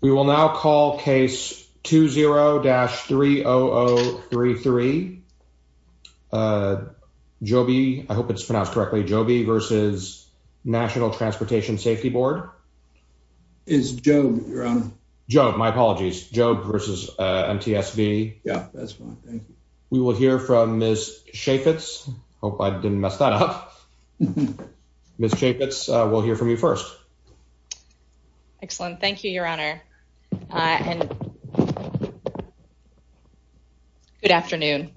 We will now call case 20-30033. Jobe, I hope it's pronounced correctly, Jobe v. National Transportation Safety Board. It's Jobe, Your Honor. Jobe, my apologies. Jobe v. MTSV. Yeah, that's fine, thank you. We will hear from Ms. Chaffetz. Hope I didn't mess that up. Ms. Chaffetz, we'll hear from you first. Excellent. Thank you, Your Honor. Good afternoon.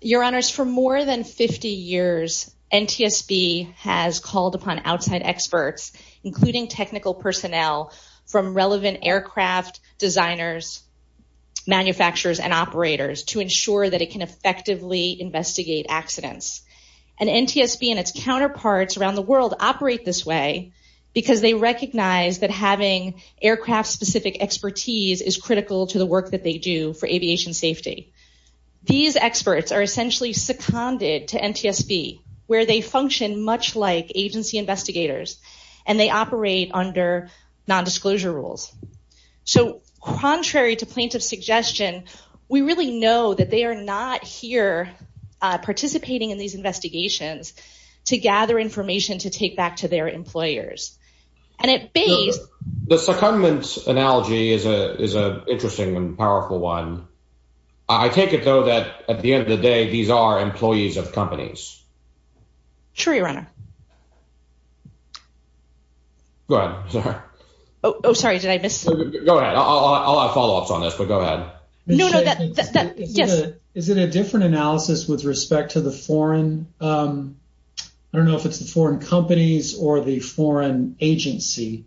Your Honors, for more than 50 years, NTSB has called upon outside experts, including technical personnel from relevant aircraft designers, manufacturers, and operators to ensure that it can effectively investigate accidents. And NTSB and its counterparts around the world operate this way because they recognize that having aircraft-specific expertise is critical to the work that they do for aviation safety. These experts are essentially seconded to NTSB, where they function much like agency investigators and they operate under non-disclosure rules. So contrary to plaintiff's suggestion, we really know that they are not here participating in these investigations to gather information to take back to their employers. And at base— The secondment analogy is an interesting and powerful one. I take it, though, that at the end of the day, these are employees of companies. Sure, Your Honor. Go ahead, sir. Oh, sorry, did I miss— Go ahead. I'll have follow-ups on this, but go ahead. No, no, that— Is it a different analysis with respect to the foreign—I don't know if it's the foreign companies or the foreign agency.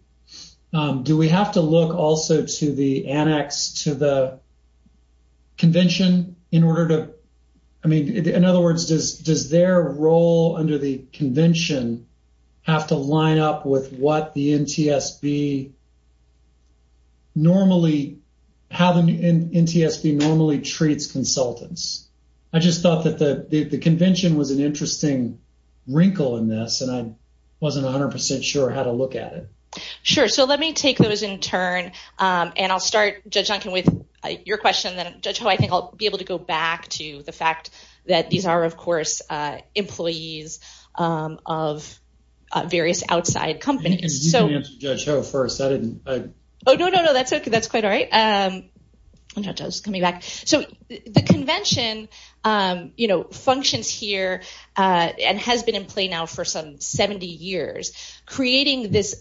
Do we have to look also to the annex to the convention in order to—I mean, in other words, does their role under the convention have to line up with what the NTSB normally—how the NTSB normally treats consultants? I just thought that the convention was an interesting wrinkle in this, and I wasn't 100 percent sure how to look at it. Sure, so let me take those in turn, and I'll start, Judge Duncan, with your question, and then, Judge Ho, I think I'll be able to go back to the fact that these are, of course, employees of various outside companies. You can answer, Judge Ho, first. I didn't— Oh, no, no, no, that's okay. That's quite all right. Judge Ho's coming back. So the convention functions here and has been in play now for some 70 years, creating this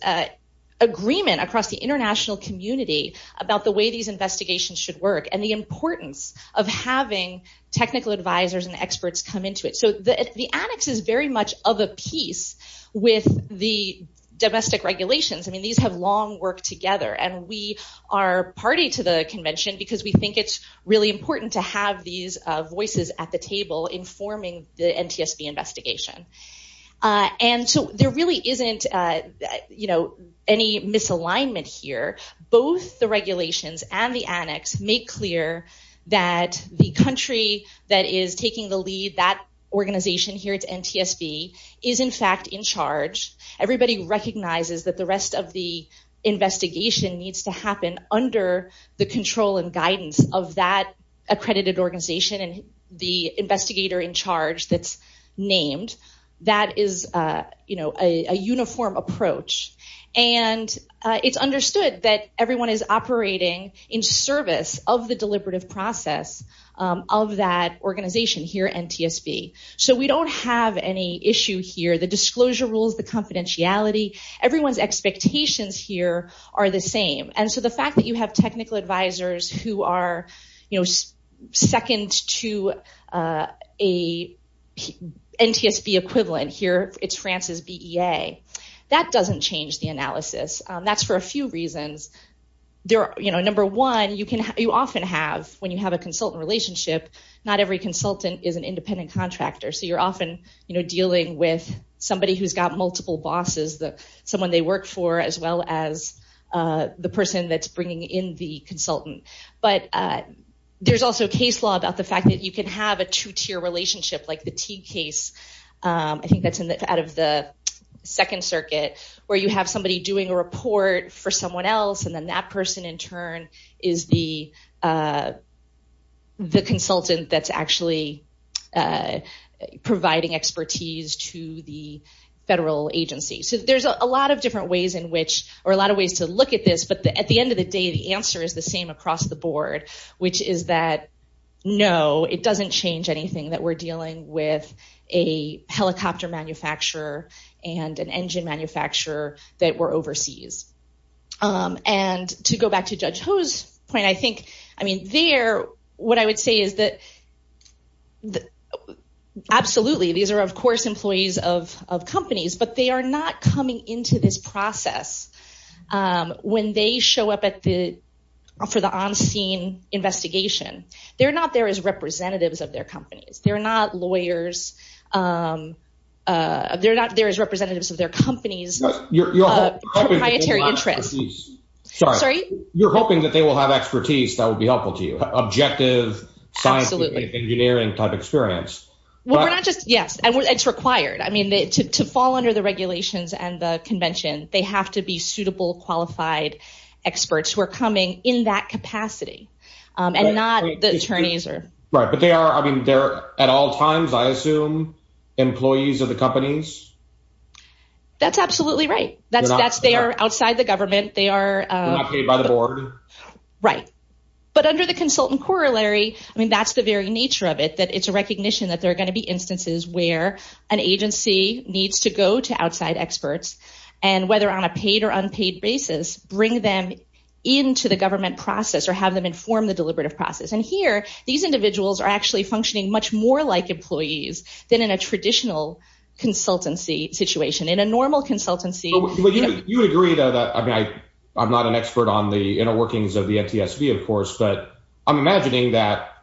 agreement across the international community about the way these investigations should work and the importance of having technical advisors and experts come into it. So the annex is very much of a piece with the domestic regulations. I mean, these have long worked together, and we are party to the convention because we think it's really important to have these voices at the table informing the NTSB investigation. And so there really isn't any misalignment here. Both the regulations and the annex make clear that the country that is taking the lead, that organization here, it's NTSB, is, in fact, in charge. Everybody recognizes that the rest of the investigation needs to happen under the control and guidance of that accredited organization and the investigator in charge that's named. That is a uniform approach, and it's understood that everyone is operating in service of the deliberative process of that organization here, NTSB. So we don't have any issue here. The disclosure rules, the confidentiality, everyone's expectations here are the same. And so the fact that you have technical advisors who are second to a NTSB equivalent here, it's France's BEA, that doesn't change the analysis. That's for a few reasons. Number one, you often have, when you have a consultant relationship, not every consultant is an independent contractor. So you're often dealing with somebody who's got multiple bosses, someone they work for as well as the person that's bringing in the consultant. But there's also case law about the fact that you can have a two-tier relationship like the Teague case, I think that's out of the Second Circuit, where you have somebody doing a report for someone else, and then that person in turn is the consultant that's actually providing expertise to the federal agency. So there's a lot of different ways in which, or a lot of ways to look at this, but at the end of the day, the answer is the same across the board, which is that, no, it doesn't change anything that we're dealing with a helicopter manufacturer and an engine manufacturer that were overseas. And to go back to Judge Ho's point, I mean, there, what I would say is that, absolutely, these are, of course, employees of companies, but they are not coming into this process when they show up for the on-scene investigation. They're not there as representatives of their companies. They're not lawyers. They're not there as representatives of their companies' proprietary interests. You're hoping that they will have expertise that would be helpful to you, objective, science, engineering type experience. Well, we're not just, yes, and it's required. I mean, to fall under the regulations and the convention, they have to be suitable, qualified experts who are coming in that capacity and not the attorneys. Right, but they are, I mean, they're at all times, I assume, employees of the companies? That's absolutely right. They are outside the government. They're not paid by the board. Right. But under the consultant corollary, I mean, that's the very nature of it, that it's a recognition that there are going to be instances where an agency needs to go to outside experts and whether on a paid or unpaid basis, bring them into the government process or have them form the deliberative process. And here, these individuals are actually functioning much more like employees than in a traditional consultancy situation. In a normal consultancy... But you would agree, though, that, I mean, I'm not an expert on the inner workings of the NTSB, of course, but I'm imagining that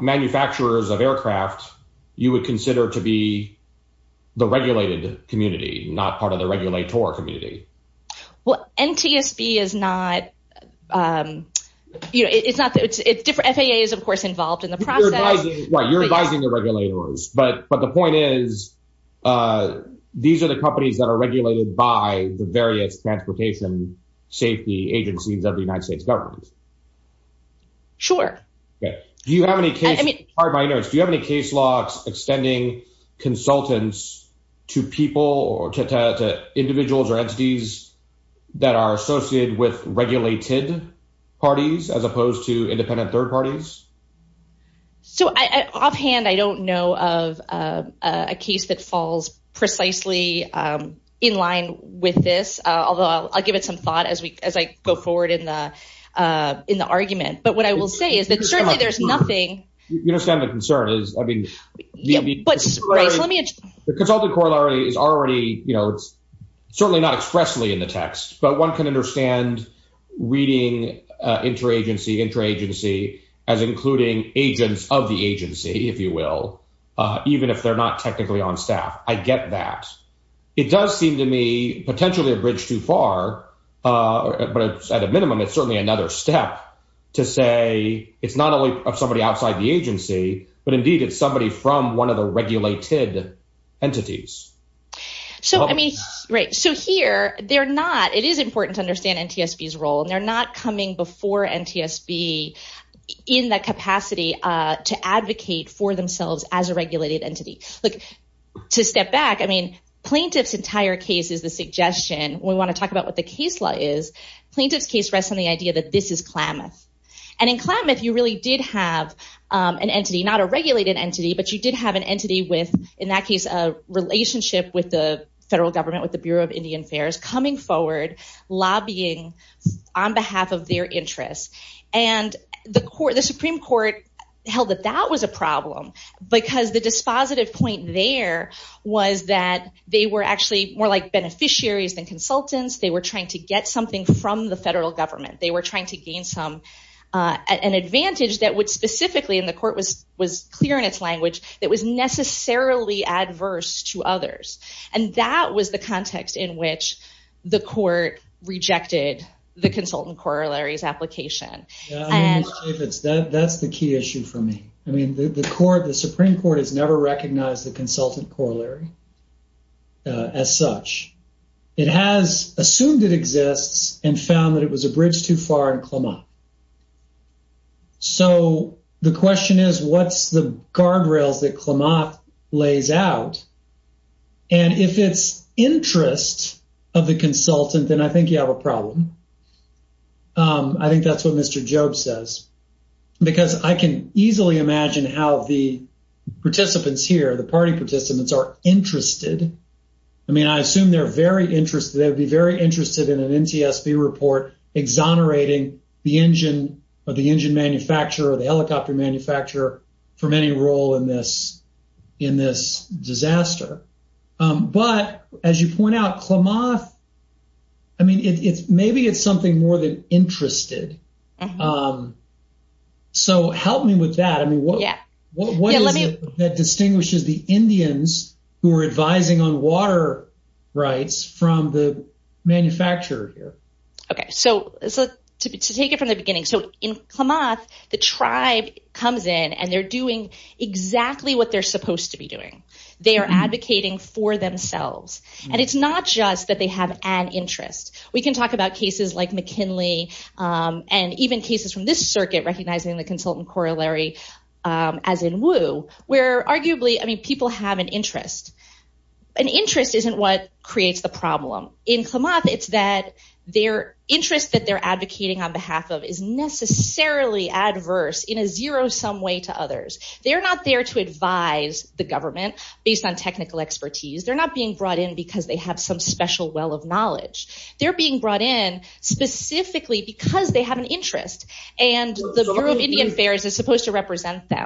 manufacturers of aircraft, you would consider to be the regulated community, not part of the regulator community. Well, NTSB is not, you know, it's different. FAA is, of course, involved in the process. Right, you're advising the regulators. But the point is, these are the companies that are regulated by the various transportation safety agencies of the United States government. Sure. Yeah. Do you have any case, pardon my nerves, do you have any case logs extending consultants to people or to individuals or entities that are associated with regulated parties, as opposed to independent third parties? So, offhand, I don't know of a case that falls precisely in line with this, although I'll give it some thought as I go forward in the argument. But what I will say is that certainly there's nothing... You understand the concern is, I mean... Right, let me... The consultant corollary is already, you know, it's certainly not expressly in the text, but one can understand reading interagency, interagency as including agents of the agency, if you will, even if they're not technically on staff. I get that. It does seem to me potentially a bridge too far, but at a minimum, it's certainly another step to say it's not only somebody outside the agency, but indeed it's somebody from one of the regulated entities. So, I mean, right. So here, they're not, it is important to understand NTSB's role, and they're not coming before NTSB in the capacity to advocate for themselves as a regulated entity. Look, to step back, I mean, plaintiff's entire case is the suggestion. We want to talk about what the case law is. Plaintiff's case rests on the idea that this is Klamath. And in Klamath, you really did have an entity, not a regulated entity, but you did have an entity with, in that case, a relationship with the federal government, with the Bureau of Indian Affairs coming forward, lobbying on behalf of their interests. And the Supreme Court held that that was a problem because the dispositive point there was that they were actually more like beneficiaries than consultants. They were trying to get something from the federal government. They were trying to gain an advantage that would specifically, and the court was clear in its language, that was necessarily adverse to others. And that was the context in which the court rejected the consultant corollary's application. Yeah, I mean, Ms. Chaffetz, that's the key issue for me. I mean, the Supreme Court has never recognized the consultant corollary as such. It has assumed it exists and found that it was a bridge too far in Klamath. So, the question is, what's the guardrails that Klamath lays out? And if it's interest of the consultant, then I think you have a problem. I think that's what Mr. Jobe says. Because I can easily imagine how the participants here, the party participants, are interested. I mean, I assume they're very interested, they would be very interested in an NTSB report exonerating the engine or the engine manufacturer or the helicopter manufacturer from any role in this disaster. But as you point out, Klamath, I mean, maybe it's something more than interested. So, help me with that. I mean, what is it that distinguishes the Indians who are advising on water rights from the manufacturer here? Okay. So, to take it from the beginning. So, in Klamath, the tribe comes in and they're doing exactly what they're supposed to be doing. They are advocating for themselves. And it's not just that they have an interest. We can talk about cases like McKinley and even cases from this arguably, I mean, people have an interest. An interest isn't what creates the problem. In Klamath, it's that their interest that they're advocating on behalf of is necessarily adverse in a zero-sum way to others. They're not there to advise the government based on technical expertise. They're not being brought in because they have some special well of knowledge. They're being brought in specifically because they have an interest. And the Bureau of Indian Affairs is Let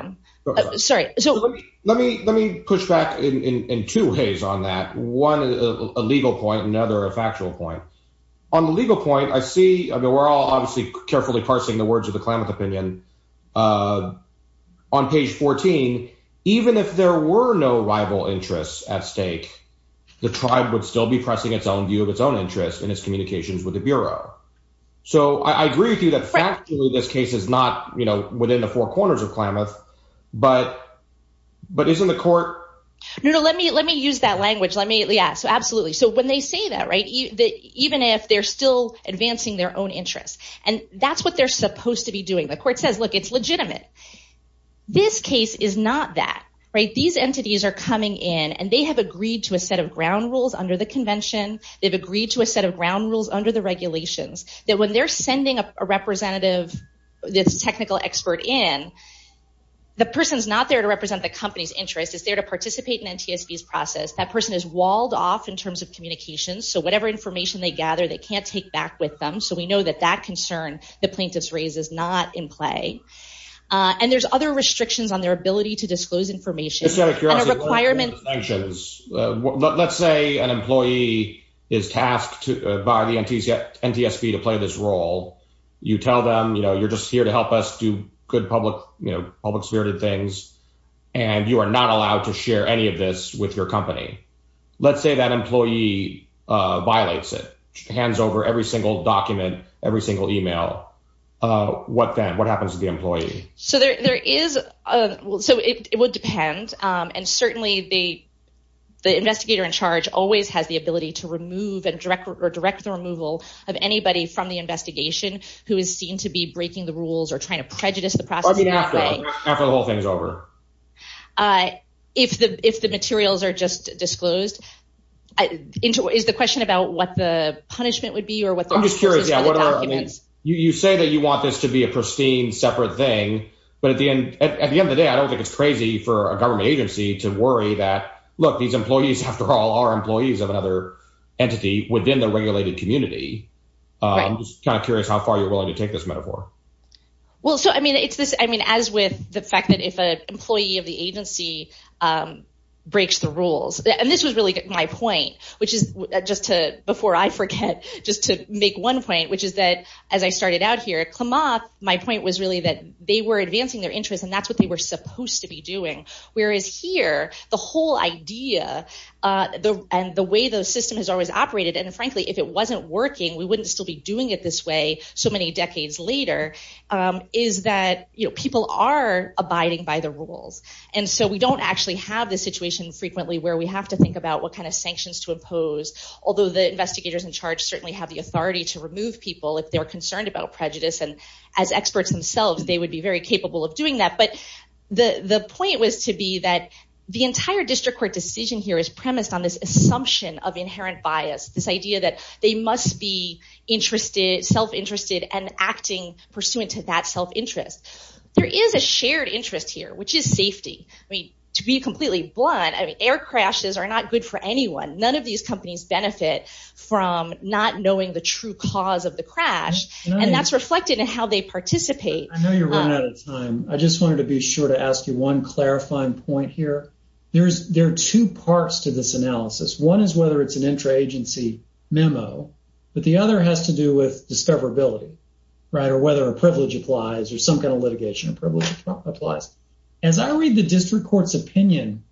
me push back in two ways on that. One, a legal point. Another, a factual point. On the legal point, I see, I mean, we're all obviously carefully parsing the words of the Klamath opinion. On page 14, even if there were no rival interests at stake, the tribe would still be pressing its own view of its own interest in its communications with the Bureau. So, I agree with you that factually, this case is not within the four corners of But isn't the court? No, no, let me use that language. Let me, yeah, so absolutely. So, when they say that, right, even if they're still advancing their own interests, and that's what they're supposed to be doing, the court says, look, it's legitimate. This case is not that, right? These entities are coming in and they have agreed to a set of ground rules under the convention. They've agreed to a set of ground rules under the regulations that when they're sending a representative, this technical expert in, the person's not there to represent the company's interest, it's there to participate in NTSB's process. That person is walled off in terms of communications. So, whatever information they gather, they can't take back with them. So, we know that that concern the plaintiffs raise is not in play. And there's other restrictions on their ability to disclose information. Let's say an employee is tasked by the NTSB to play this role. You tell them, you know, you're just here to help us do good public, you know, you are not allowed to share any of this with your company. Let's say that employee violates it, hands over every single document, every single email. What then? What happens to the employee? So, it would depend. And certainly, the investigator in charge always has the ability to remove or direct the removal of anybody from the investigation who is seen to be breaking the law. If the materials are just disclosed, is the question about what the punishment would be? I'm just curious. You say that you want this to be a pristine separate thing. But at the end of the day, I don't think it's crazy for a government agency to worry that, look, these employees, after all, are employees of another entity within the regulated community. I'm just kind of curious how far you're willing to take this metaphor. Well, so, I mean, it's this, I mean, as with the fact that if an employee of the agency breaks the rules, and this was really my point, which is just to, before I forget, just to make one point, which is that as I started out here at Clamath, my point was really that they were advancing their interests and that's what they were supposed to be doing. Whereas here, the whole idea and the way the system has always operated, and frankly, if it wasn't working, we wouldn't still be doing it this way so many decades later, is that people are abiding by the rules. And so we don't actually have this situation frequently where we have to think about what kind of sanctions to impose, although the investigators in charge certainly have the authority to remove people if they're concerned about prejudice. And as experts themselves, they would be very capable of doing that. But the point was to be that the entire district court decision here is premised on this assumption of inherent bias, this idea that they must be self-interested and acting pursuant to that self-interest. There is a shared interest here, which is safety. I mean, to be completely blunt, air crashes are not good for anyone. None of these companies benefit from not knowing the true cause of the crash, and that's reflected in how they participate. I know you're running out of time. I just wanted to be sure to ask you one clarifying point here. There are two parts to this analysis. One is whether it's an intra-agency memo, but the other has to do with discoverability, right, or whether a privilege applies or some kind of litigation privilege applies. As I read the district court's opinion,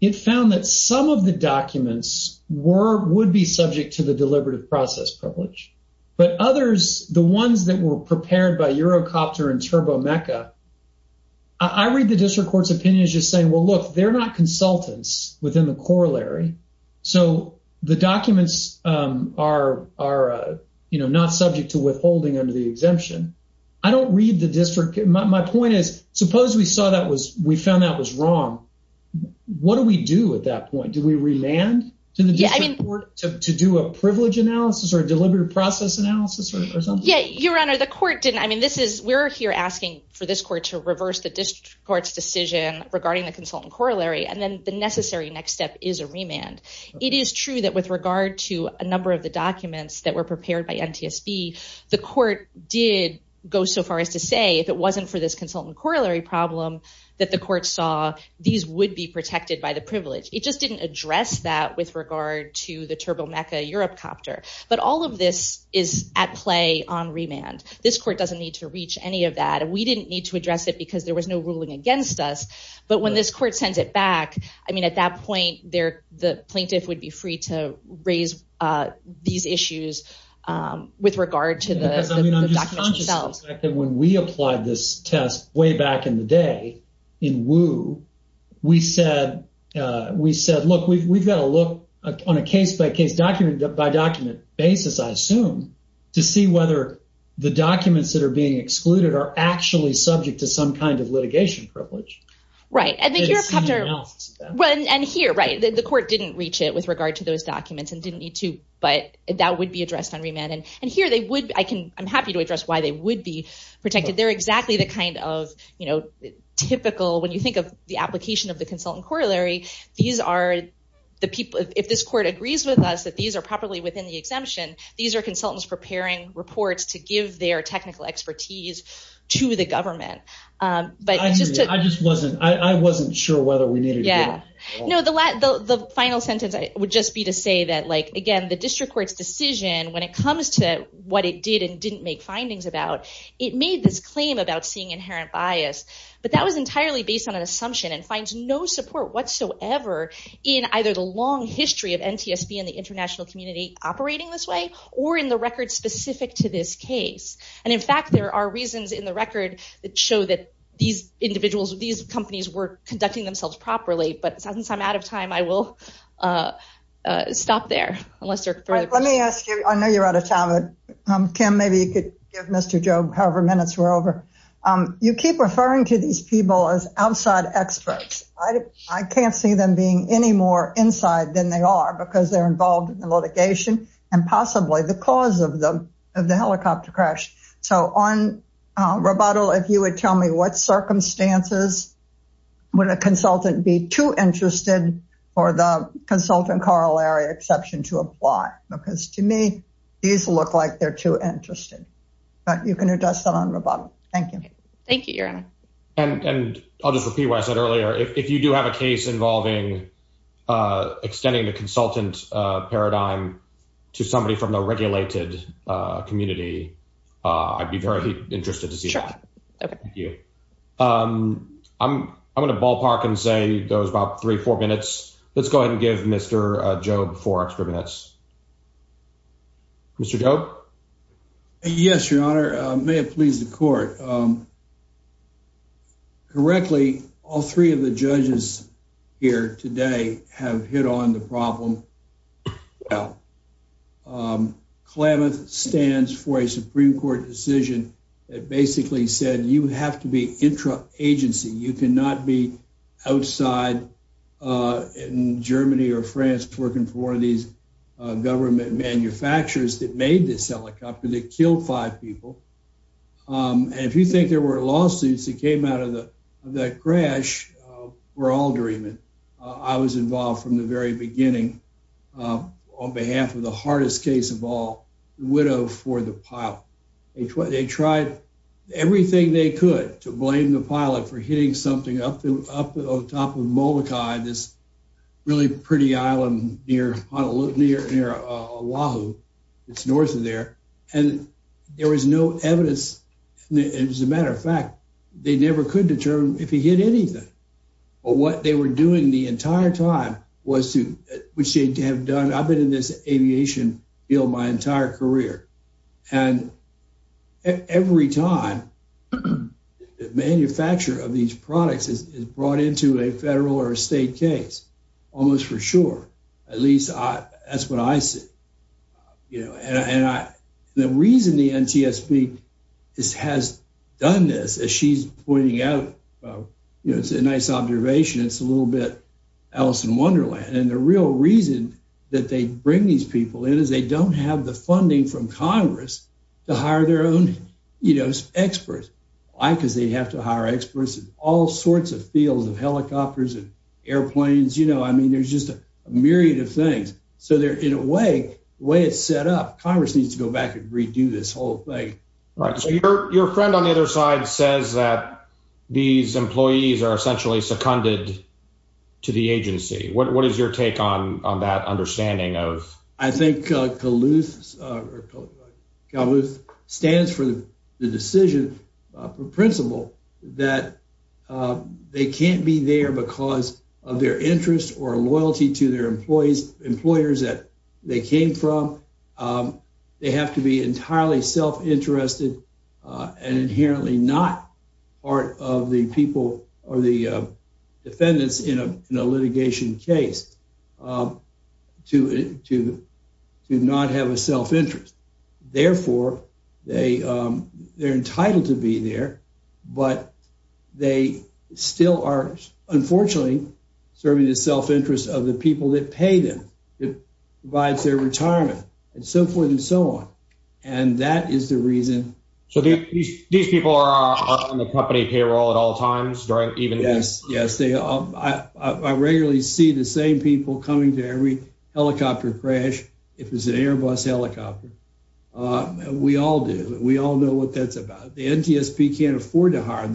it found that some of the documents would be subject to the deliberative process privilege, but others, the ones that were prepared by Eurocopter and Turbo Mecca, I read the district court's opinion as just saying, well, look, they're not consultants within the corollary, so the documents are not subject to withholding under the exemption. I don't read the district. My point is, suppose we found that was wrong. What do we do at that point? Do we remand to the district court to do a privilege analysis or a deliberative process analysis or something? Yeah, Your Honor, the court didn't. We're here asking for this court to reverse the district court's decision regarding the consultant corollary, and then the necessary next step is a remand. It is true that with regard to a number of the documents that were prepared by NTSB, the court did go so far as to say if it wasn't for this consultant corollary problem that the court saw, these would be protected by the privilege. It just didn't address that with regard to the Turbo Mecca Eurocopter, but all of this is at play on remand. This court doesn't need to reach any of that. We didn't need to address it because there was no ruling against us, but when this court sends it back, at that point, the plaintiff would be free to raise these issues with regard to the documents themselves. I'm just conscious of the fact that when we applied this test way back in the day in Wu, we said, look, we've got to look on a case-by-case, document-by-document basis, I assume, to see whether the documents that are being excluded are actually subject to some kind of litigation privilege. Right. And here, right, the court didn't reach it with regard to those documents and didn't need to, but that would be addressed on remand. I'm happy to address why they would be protected. They're exactly the kind of typical, when you think of the application of the consultant corollary, these are the people, if this court agrees with us that these are properly within the exemption, these are consultants preparing reports to give their technical expertise to the government. I just wasn't sure whether we needed to. No, the final sentence would just be to say that, again, the district court's decision, when it comes to what it did and didn't make findings about, it made this claim about seeing in either the long history of NTSB and the international community operating this way, or in the record specific to this case. And in fact, there are reasons in the record that show that these individuals, these companies were conducting themselves properly. But since I'm out of time, I will stop there. Let me ask you, I know you're out of time. Kim, maybe you could give Mr. Job however them being any more inside than they are because they're involved in the litigation and possibly the cause of the helicopter crash. So on rebuttal, if you would tell me what circumstances would a consultant be too interested for the consultant corollary exception to apply? Because to me, these look like they're too interested. But you can address that on rebuttal. Thank you. Thank you, Your Honor. And I'll just repeat what I said earlier. If you do have a case involving extending the consultant paradigm to somebody from the regulated community, I'd be very interested to see that. Sure. Thank you. I'm going to ballpark and say there was about three, four minutes. Let's go ahead and give Mr. Job four extra minutes. Mr. Job? Yes, Your Honor. May it please the court. Correctly, all three of the judges here today have hit on the problem well. Klamath stands for a Supreme Court decision that basically said you have to be intra-agency. You cannot be outside in Germany or France working for one of these government manufacturers that made this helicopter that killed five people. And if you think there were lawsuits that came out of the crash, we're all dreaming. I was involved from the very beginning on behalf of the hardest case of all, the widow for the pilot. They tried everything they could to blame the pilot for hitting something up on top of Molokai, this really pretty island near Oahu. It's north of there. And there was no evidence. As a matter of fact, they never could determine if he hit anything. But what they were doing the entire time was to, which they have done, I've been in this aviation field my entire career. And every time the manufacturer of these helicopters, the reason the NTSB has done this, as she's pointing out, it's a nice observation. It's a little bit Alice in Wonderland. And the real reason that they bring these people in is they don't have the funding from Congress to hire their own experts. Why? Because they'd have to hire experts in all sorts of fields of helicopters and airplanes. I mean, there's just a myriad of so they're in a way, the way it's set up, Congress needs to go back and redo this whole thing. Right. So your friend on the other side says that these employees are essentially seconded to the agency. What is your take on that understanding of? I think Calhoun stands for the decision principle that they can't be there because of their interest or loyalty to their employees, employers that they came from, they have to be entirely self-interested and inherently not part of the people or the defendants in a litigation case to not have a self-interest. Therefore, they're entitled to be there, but they still are, unfortunately, serving the self-interest of the people that pay them, that provides their retirement and so forth and so on. And that is the reason. So these people are on the company payroll at all times, right? Yes, yes. I regularly see the same people coming to every helicopter crash. If it's an Airbus about it, the NTSB can't afford to hire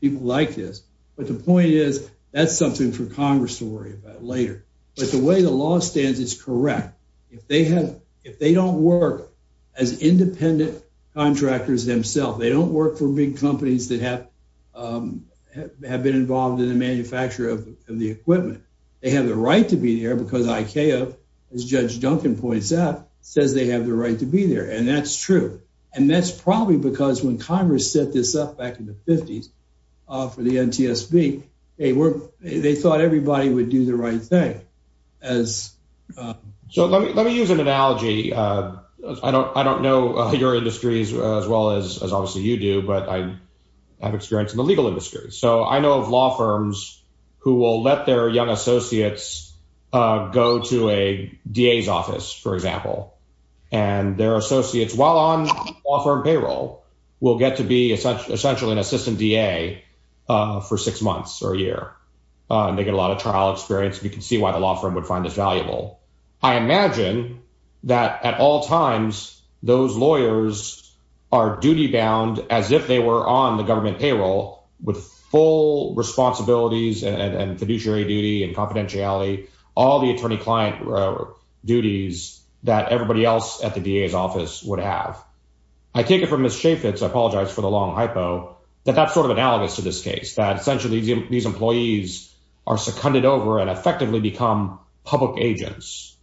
people like this. But the point is, that's something for Congress to worry about later. But the way the law stands is correct. If they don't work as independent contractors themselves, they don't work for big companies that have been involved in the manufacture of the equipment, they have the right to be there because ICAO, as Judge Duncan points out, says they have the right to be there. And that's true. And that's probably because when Congress set this up back in the 50s for the NTSB, they thought everybody would do the right thing. So let me use an analogy. I don't know your industries as well as obviously you do, but I have experience in the legal industry. So I know of law firms who will let their young associates go to a DA's office, for example. And their associates, while on law firm payroll, will get to be essentially an assistant DA for six months or a year. They get a lot of trial experience. We can see why the law firm would find this valuable. I imagine that at all times, those lawyers are duty-bound as if they were on the government payroll with full responsibilities and fiduciary duty and confidentiality, all the attorney-client duties that everybody else at the DA's office would have. I take it from Ms. Chaffetz, I apologize for the long hypo, that that's sort of analogous to this case, that essentially these employees are secunded over and effectively become public agents,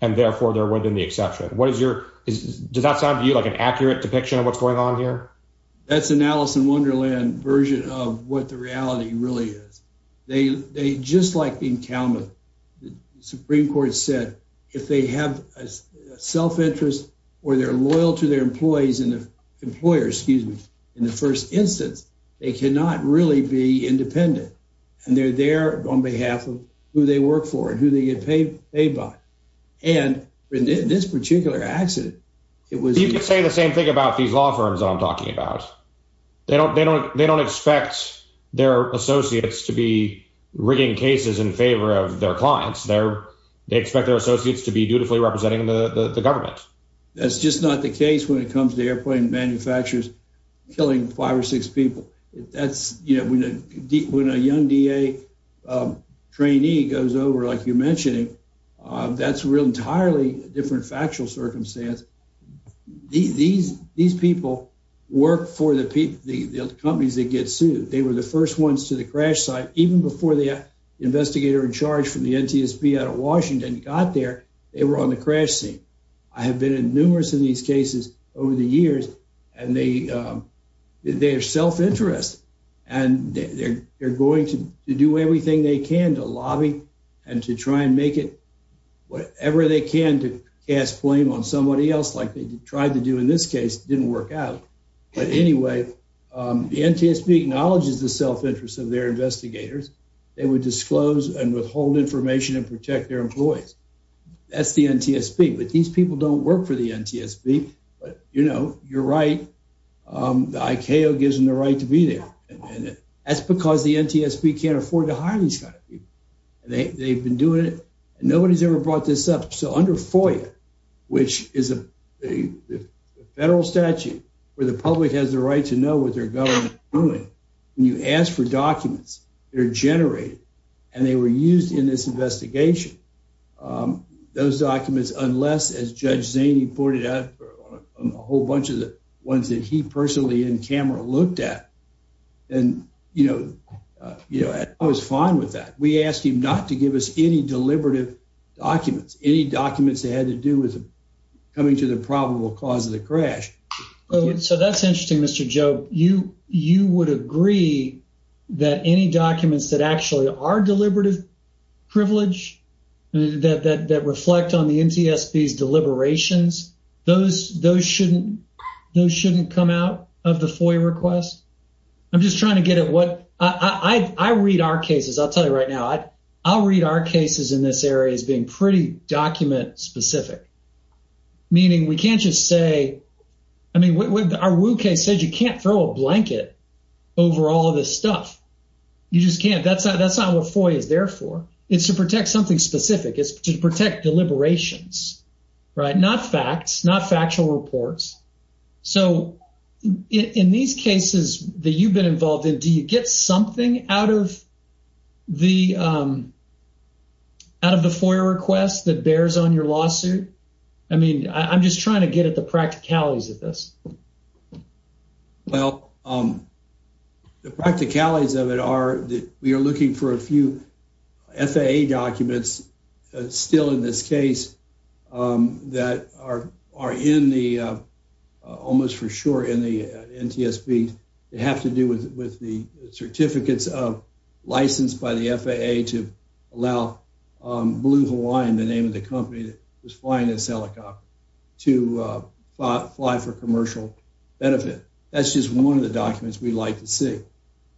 and therefore they're within the exception. Does that sound to you like an accurate depiction of what's going on here? That's an Alice in Wonderland version of what the reality really is. They, just like in Kalamazoo, the Supreme Court said, if they have a self-interest or they're loyal to their employees and employers, excuse me, in the first instance, they cannot really be independent. And they're there on behalf of who they work for and who they get paid by. And in this particular accident, it was- You could say the same thing about these law firms that I'm talking about. They don't expect their associates to be rigging cases in favor of their clients. They expect their associates to be dutifully representing the government. That's just not the case when it comes to airplane manufacturers killing five or six people. That's, you know, when a young DA trainee goes over, like you mentioned, that's an entirely different factual circumstance. These people work for the companies that get sued. They were the first ones to the crash site. Even before the investigator in charge from the NTSB out of Washington got there, they were on the crash scene. I have been in numerous of these cases over the years, and they have self-interest. And they're going to do everything they can to lobby and to try and make it whatever they can to cast blame on somebody else like they tried to do in this case. It didn't work out. But anyway, the NTSB acknowledges the self-interest of their investigators. They would disclose and withhold information and protect their employees. That's the NTSB. But these people don't work for the NTSB. But, you know, you're right. The ICAO gives them the right to be there. And that's because the NTSB can't afford to and they've been doing it. And nobody's ever brought this up. So under FOIA, which is a federal statute where the public has the right to know what they're going to be doing, when you ask for documents, they're generated. And they were used in this investigation. Those documents, unless, as Judge Zaney pointed out, a whole bunch of the ones that he personally in camera looked at. And, you know, I was fine with that. We asked him not to give us any deliberative documents, any documents that had to do with coming to the probable cause of the crash. So that's interesting, Mr. Joe. You would agree that any documents that actually are deliberative privilege, that reflect on the NTSB's deliberations, those shouldn't come out of the FOIA request? I'm just trying to get at what, I read our cases, I'll tell you right now, I'll read our cases in this area as being pretty document specific. Meaning we can't just say, I mean, our Wu case said you can't throw a blanket over all of this stuff. You just can't. That's not what FOIA is there for. It's to protect something specific. It's to protect deliberations, right? Not facts, not factual reports. So in these cases that you've been involved in, do you get something out of the FOIA request that bears on your lawsuit? I mean, I'm just trying to get at the practicalities of this. Well, the practicalities of it are that we are looking for a few FAA documents, still in this case, that are in the, almost for sure in the NTSB, that have to do with the certificates of license by the FAA to allow Blue Hawaiian, the name of the company that was flying this helicopter, to fly for commercial benefit. That's just one of the documents we like to see.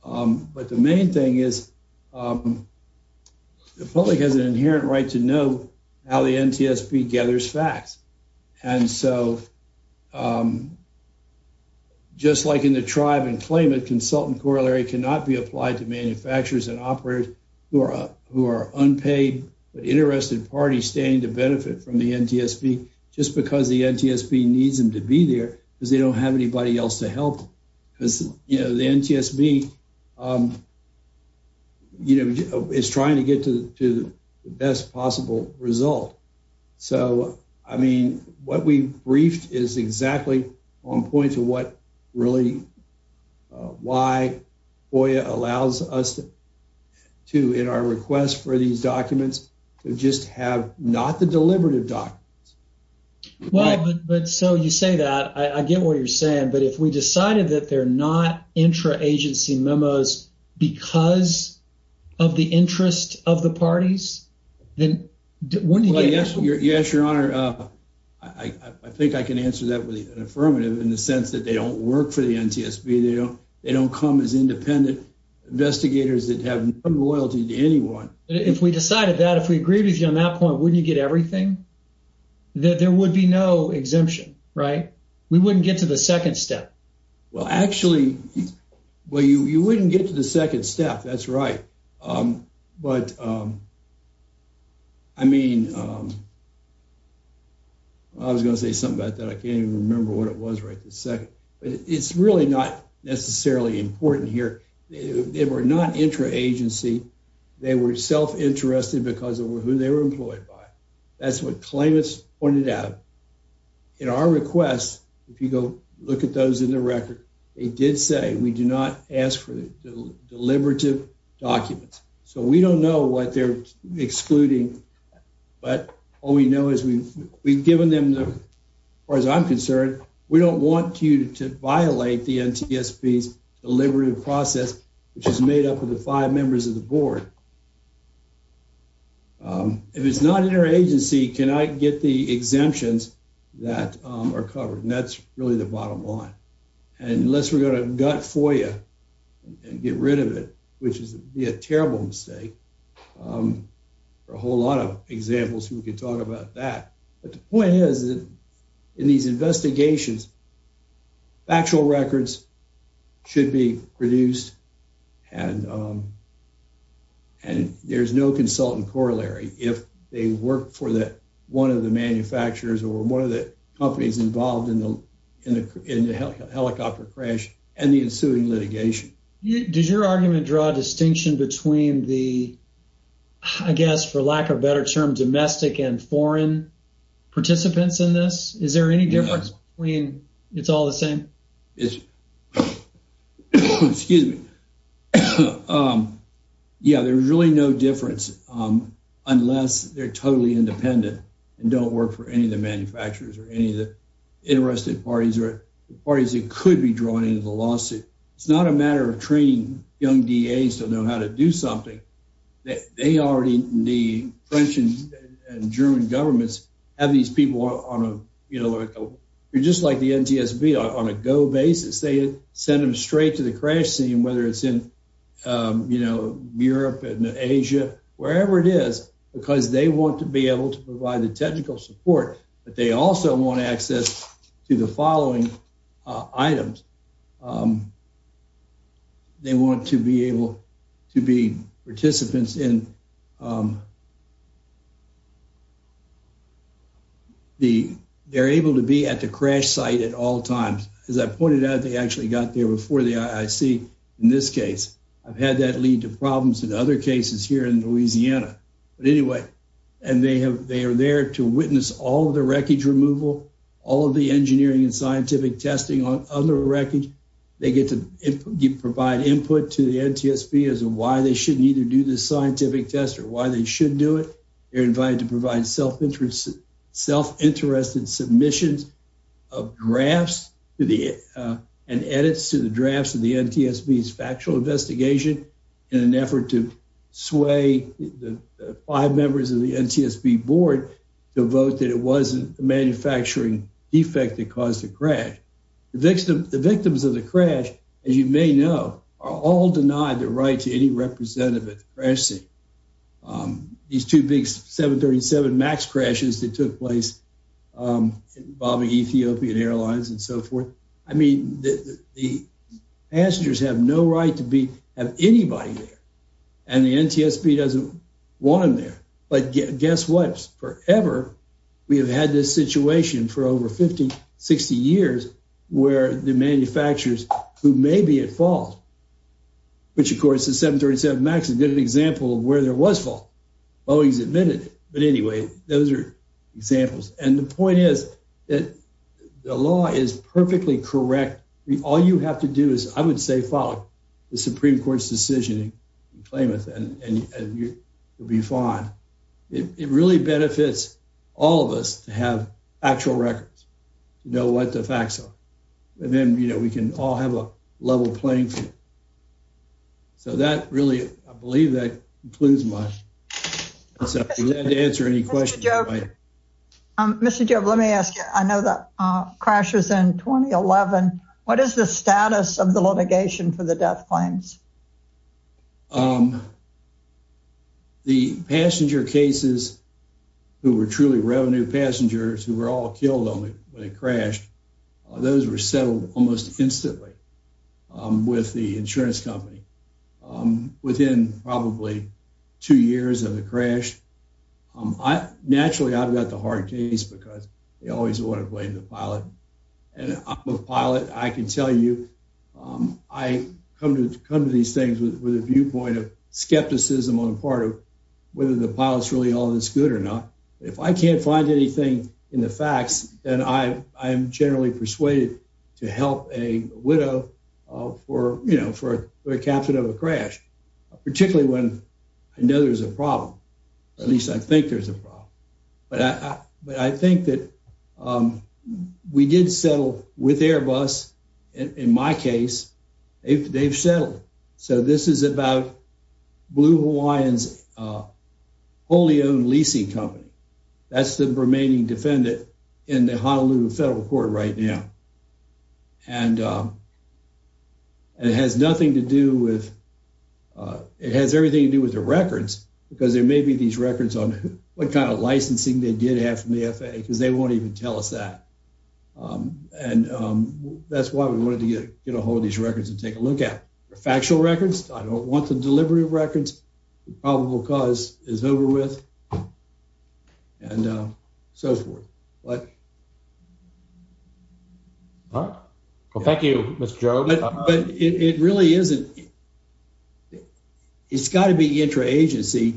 But the main thing is the public has an inherent right to know how the NTSB gathers facts. And so just like in the tribe and claimant, consultant corollary cannot be applied to manufacturers and standing to benefit from the NTSB just because the NTSB needs them to be there because they don't have anybody else to help. Because the NTSB is trying to get to the best possible result. So, I mean, what we briefed is exactly on point to what really, why FOIA allows us to, in our request for these documents, to just have not the deliberative documents. Well, but so you say that, I get what you're saying, but if we decided that they're not intra-agency memos because of the interest of the parties, then wouldn't it be helpful? Yes, your honor, I think I can answer that with an affirmative in the sense that they work for the NTSB. They don't come as independent investigators that have no loyalty to anyone. If we decided that, if we agreed with you on that point, wouldn't you get everything? That there would be no exemption, right? We wouldn't get to the second step. Well, actually, well, you wouldn't get to the second step. That's right. But I mean, I was going to say something about that. I can't even remember what it was right this second, but it's really not necessarily important here. They were not intra-agency. They were self-interested because of who they were employed by. That's what claimants pointed out. In our request, if you go look at those in the record, they did say we do not ask for the deliberative documents. So we don't know what they're excluding, but all we know is we've given them, as far as I'm concerned, we don't want you to violate the NTSB's deliberative process, which is made up of the five members of the board. If it's not intra-agency, can I get the exemptions that are covered? And that's really the bottom line. Unless we're going to gut FOIA and get rid of it, which would be a terrible mistake. There are a whole lot of examples where we could talk about that. But the point is, in these investigations, factual records should be produced and there's no consultant corollary if they work for one of the manufacturers or one of the companies involved in the helicopter crash and the ensuing litigation. Does your argument draw a distinction between the, I guess, for lack of a better term, domestic and foreign participants in this? Is there any difference unless they're totally independent and don't work for any of the manufacturers or any of the interested parties or parties that could be drawn into the lawsuit? It's not a matter of training young DAs to know how to do something. They already, the French and German governments, have these people on a, you know, they're just like the NTSB, on a go basis. They send them straight to the crash scene, whether it's in, you know, Europe and Asia, wherever it is, because they want to be able to provide the technical support. But they also want access to the following items. They want to be able to be participants in, they're able to be at the crash site at all times. As I pointed out, they actually got there before the IIC in this case. I've had that lead to problems in other cases here in Louisiana. But anyway, and they have, they are there to witness all the wreckage removal, all of the engineering and scientific testing on other wreckage. They get to provide input to the NTSB on why they shouldn't either do the scientific test or why they should do it. They're invited to provide self-interested submissions of drafts and edits to the drafts of the NTSB's factual investigation in an effort to sway the five members of the NTSB board to vote that it wasn't a manufacturing defect that caused the crash. The victims of the crash, as you may know, are all denied the right to any representative at the crash site. These two big 737 MAX crashes that took place involving Ethiopian Airlines and so forth. I mean, the passengers have no right to be, have anybody there. And the NTSB doesn't want them there. But guess what? Forever, we have had this situation for over 50, 60 years, where the manufacturers who may be at fault, which, of course, the 737 MAX is a good example of where there was fault. Boeing's admitted it. But anyway, those are examples. And the point is that the law is perfectly correct. All you have to do is, I would say, follow the Supreme Court's decision and claim it, and you'll be fine. It really benefits all of us to have actual records, to know what the facts are. And then, you know, we can all have a level playing field. So that really, I believe that concludes my session. If you'd like to answer any questions, you're welcome. Mr. Job, let me ask you, I know the crash was in 2011. What is the status of the litigation for the death claims? The passenger cases, who were truly revenue passengers, who were all killed when it crashed, those were settled almost instantly with the insurance company within probably two years of the crash. Naturally, I've got the hard case, because they always want to blame the pilot. And I'm a pilot. I can tell you, I come to these things with a viewpoint of skepticism on the part of whether the pilot's really all that's good or not. If I can't find anything in the facts, then I am generally persuaded to help a widow for, you know, for a captain of a crash, particularly when I know there's a problem. At least I think there's a problem. But I think that um, we did settle with Airbus. In my case, they've settled. So this is about Blue Hawaiian's wholly owned leasing company. That's the remaining defendant in the Honolulu Federal Court right now. And it has nothing to do with, it has everything to do with the records, because there may be these records on what kind of licensing they did have from the FAA, because they won't even tell us that. And that's why we wanted to get a hold of these records and take a look at. They're factual records. I don't want the delivery of records. The probable cause is over with. And so forth. But... All right. Well, thank you, Mr. Jones. But it really isn't. It's got to be intra-agency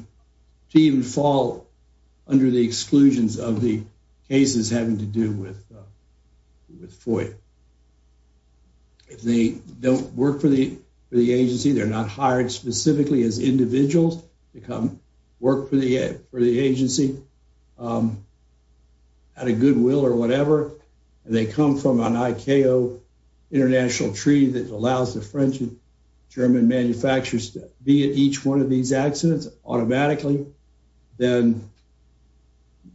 to even fall under the exclusions of the cases having to do with FOIA. If they don't work for the agency, they're not hired specifically as individuals to come work for the agency out of goodwill or whatever, and they come from an ICAO international treaty that allows the French and German manufacturers to be at each one of these accidents automatically, then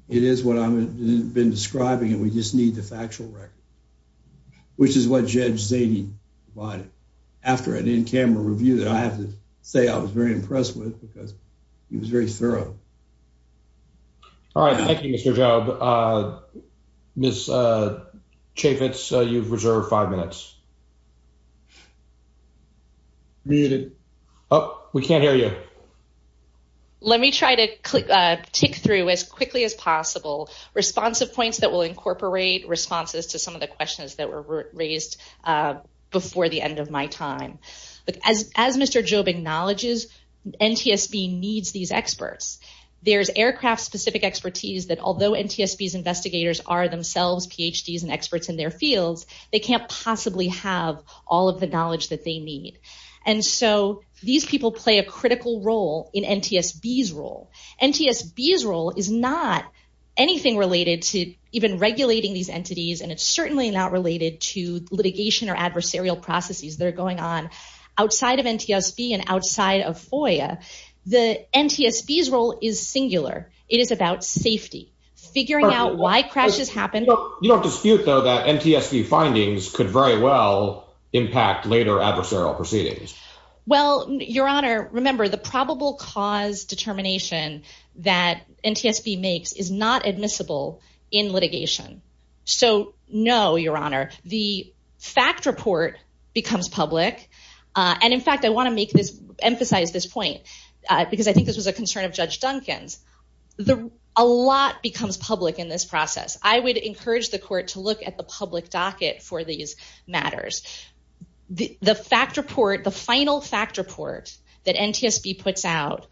it is what I've been describing, and we just need the factual record, which is what Judge Zady provided after an in-camera review that I have to say I was very impressed with, because he was very thorough. All right. Thank you, Mr. Jobe. Ms. Chaffetz, you've reserved five minutes. Muted. Oh, we can't hear you. Let me try to tick through as quickly as possible responsive points that will incorporate responses to some of the questions that were raised before the end of my time. As Mr. Jobe acknowledges, NTSB needs these experts. There's aircraft-specific expertise that although NTSB's investigators are themselves PhDs and experts in their fields, they can't possibly have all of the knowledge that they need. These people play a critical role in NTSB's role. NTSB's role is not anything related to even regulating these entities, and it's certainly not related to FOIA. NTSB's role is singular. It is about safety, figuring out why crashes happen. You don't dispute, though, that NTSB findings could very well impact later adversarial proceedings. Well, Your Honor, remember the probable cause determination that NTSB makes is not admissible in litigation. So, no, Your Honor. The fact report becomes public, and in fact, I want to emphasize this point because I think this was a concern of Judge Duncan's. A lot becomes public in this process. I would encourage the court to look at the public docket for these matters. The final fact report that NTSB puts out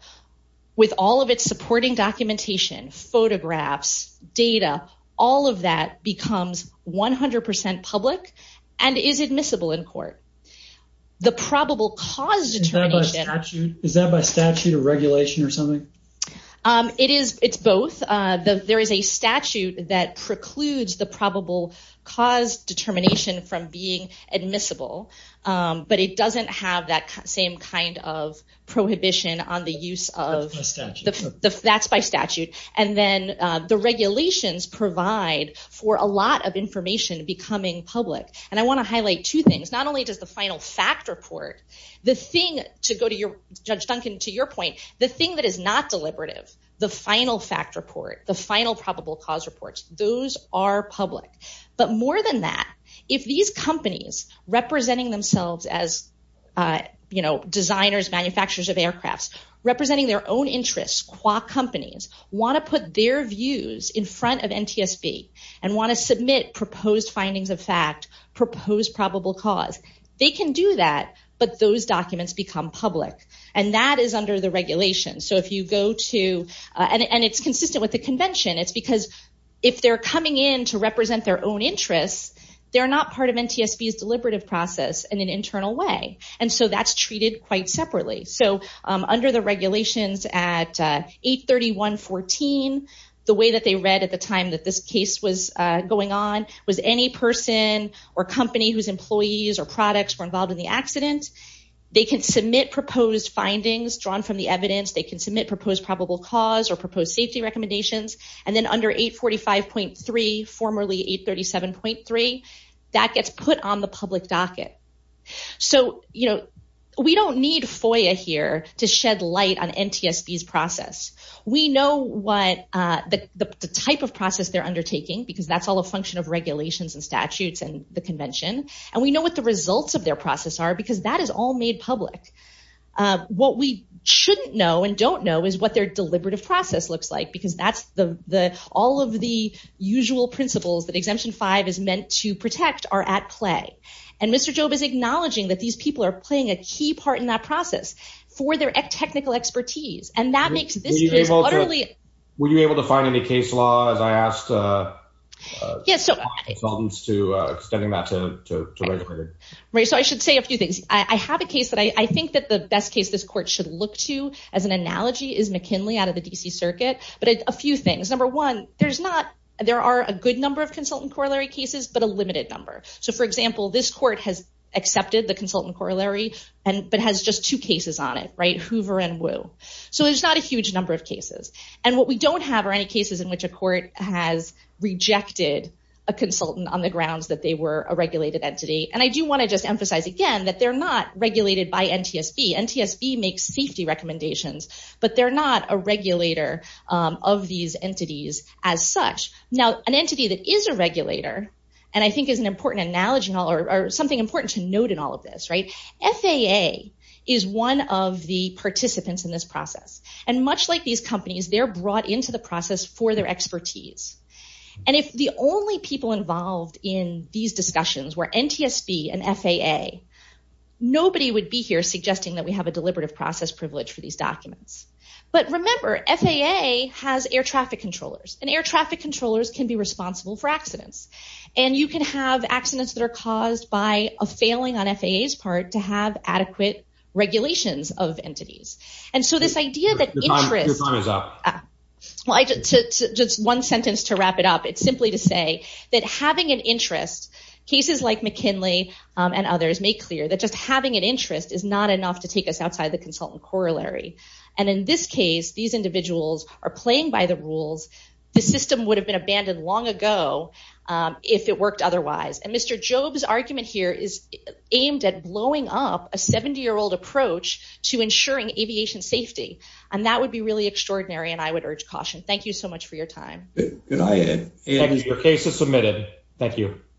with all of its supporting documentation, photographs, data, all of that becomes 100% public and is admissible in court. The probable cause determination... Is that by statute or regulation or something? It's both. There is a statute that precludes the probable cause determination from being admissible, but it doesn't have that same kind of prohibition on the use of... That's by statute. That's by statute. Then the regulations provide for a lot of information becoming public. I want to highlight two things. Not only does the final fact report... Judge Duncan, to your point, the thing that is not deliberative, the final fact report, the final probable cause reports, those are public. But more than that, if these companies representing themselves as designers, manufacturers of aircrafts, representing their own interests, companies, want to put their views in front of NTSB and want to do that, but those documents become public. That is under the regulations. It's consistent with the convention. It's because if they're coming in to represent their own interests, they're not part of NTSB's deliberative process in an internal way. That's treated quite separately. Under the regulations at 831.14, the way that they read at the time that this case was going on was any person or company whose employees or products were involved in the accident, they can submit proposed findings drawn from the evidence. They can submit proposed probable cause or proposed safety recommendations. Then under 845.3, formerly 837.3, that gets put on the public docket. We don't need FOIA here to shed light on NTSB's process. We know what the type of process they're undertaking, because that's a function of regulations and statutes and the convention. We know what the results of their process are, because that is all made public. What we shouldn't know and don't know is what their deliberative process looks like, because all of the usual principles that Exemption 5 is meant to protect are at play. Mr. Job is acknowledging that these people are playing a key part in that process for their technical expertise. That makes this case utterly- Were you able to find any case law as I asked consultants to extending that to regulators? I should say a few things. I have a case that I think that the best case this court should look to as an analogy is McKinley out of the D.C. Circuit, but a few things. Number one, there are a good number of consultant corollary cases, but a limited number. For example, this court has accepted the consultant corollary, but has just two cases on it, Hoover and Wu. There's not a huge number of cases. What we don't have are any cases in which a court has rejected a consultant on the grounds that they were a regulated entity. I do want to just emphasize again that they're not regulated by NTSB. NTSB makes safety recommendations, but they're not a regulator of these entities as such. Now, an entity that is a regulator, and I think is an important analogy or something important to note in all of this, FAA is one of the participants in this process. Much like these companies, they're brought into the process for their expertise. If the only people involved in these discussions were NTSB and FAA, nobody would be here suggesting that we have a deliberative process privilege for these documents. Remember, FAA has air traffic controllers, and air traffic controllers can be responsible for accidents. You can have accidents that are caused by a failing on FAA's part to have adequate regulations of entities. This idea that interest- Your time is up. Well, just one sentence to wrap it up. It's simply to say that having an interest, cases like McKinley and others make clear that just having an interest is not enough to take us outside the consultant corollary. In this case, these individuals are playing by the rules. The system would have been abandoned long ago if it worked otherwise. Mr. Jobe's argument here is aimed at blowing up a 70-year-old approach to ensuring aviation safety. That would be really extraordinary, and I would urge caution. Thank you so much for your time. Your case is submitted. Thank you.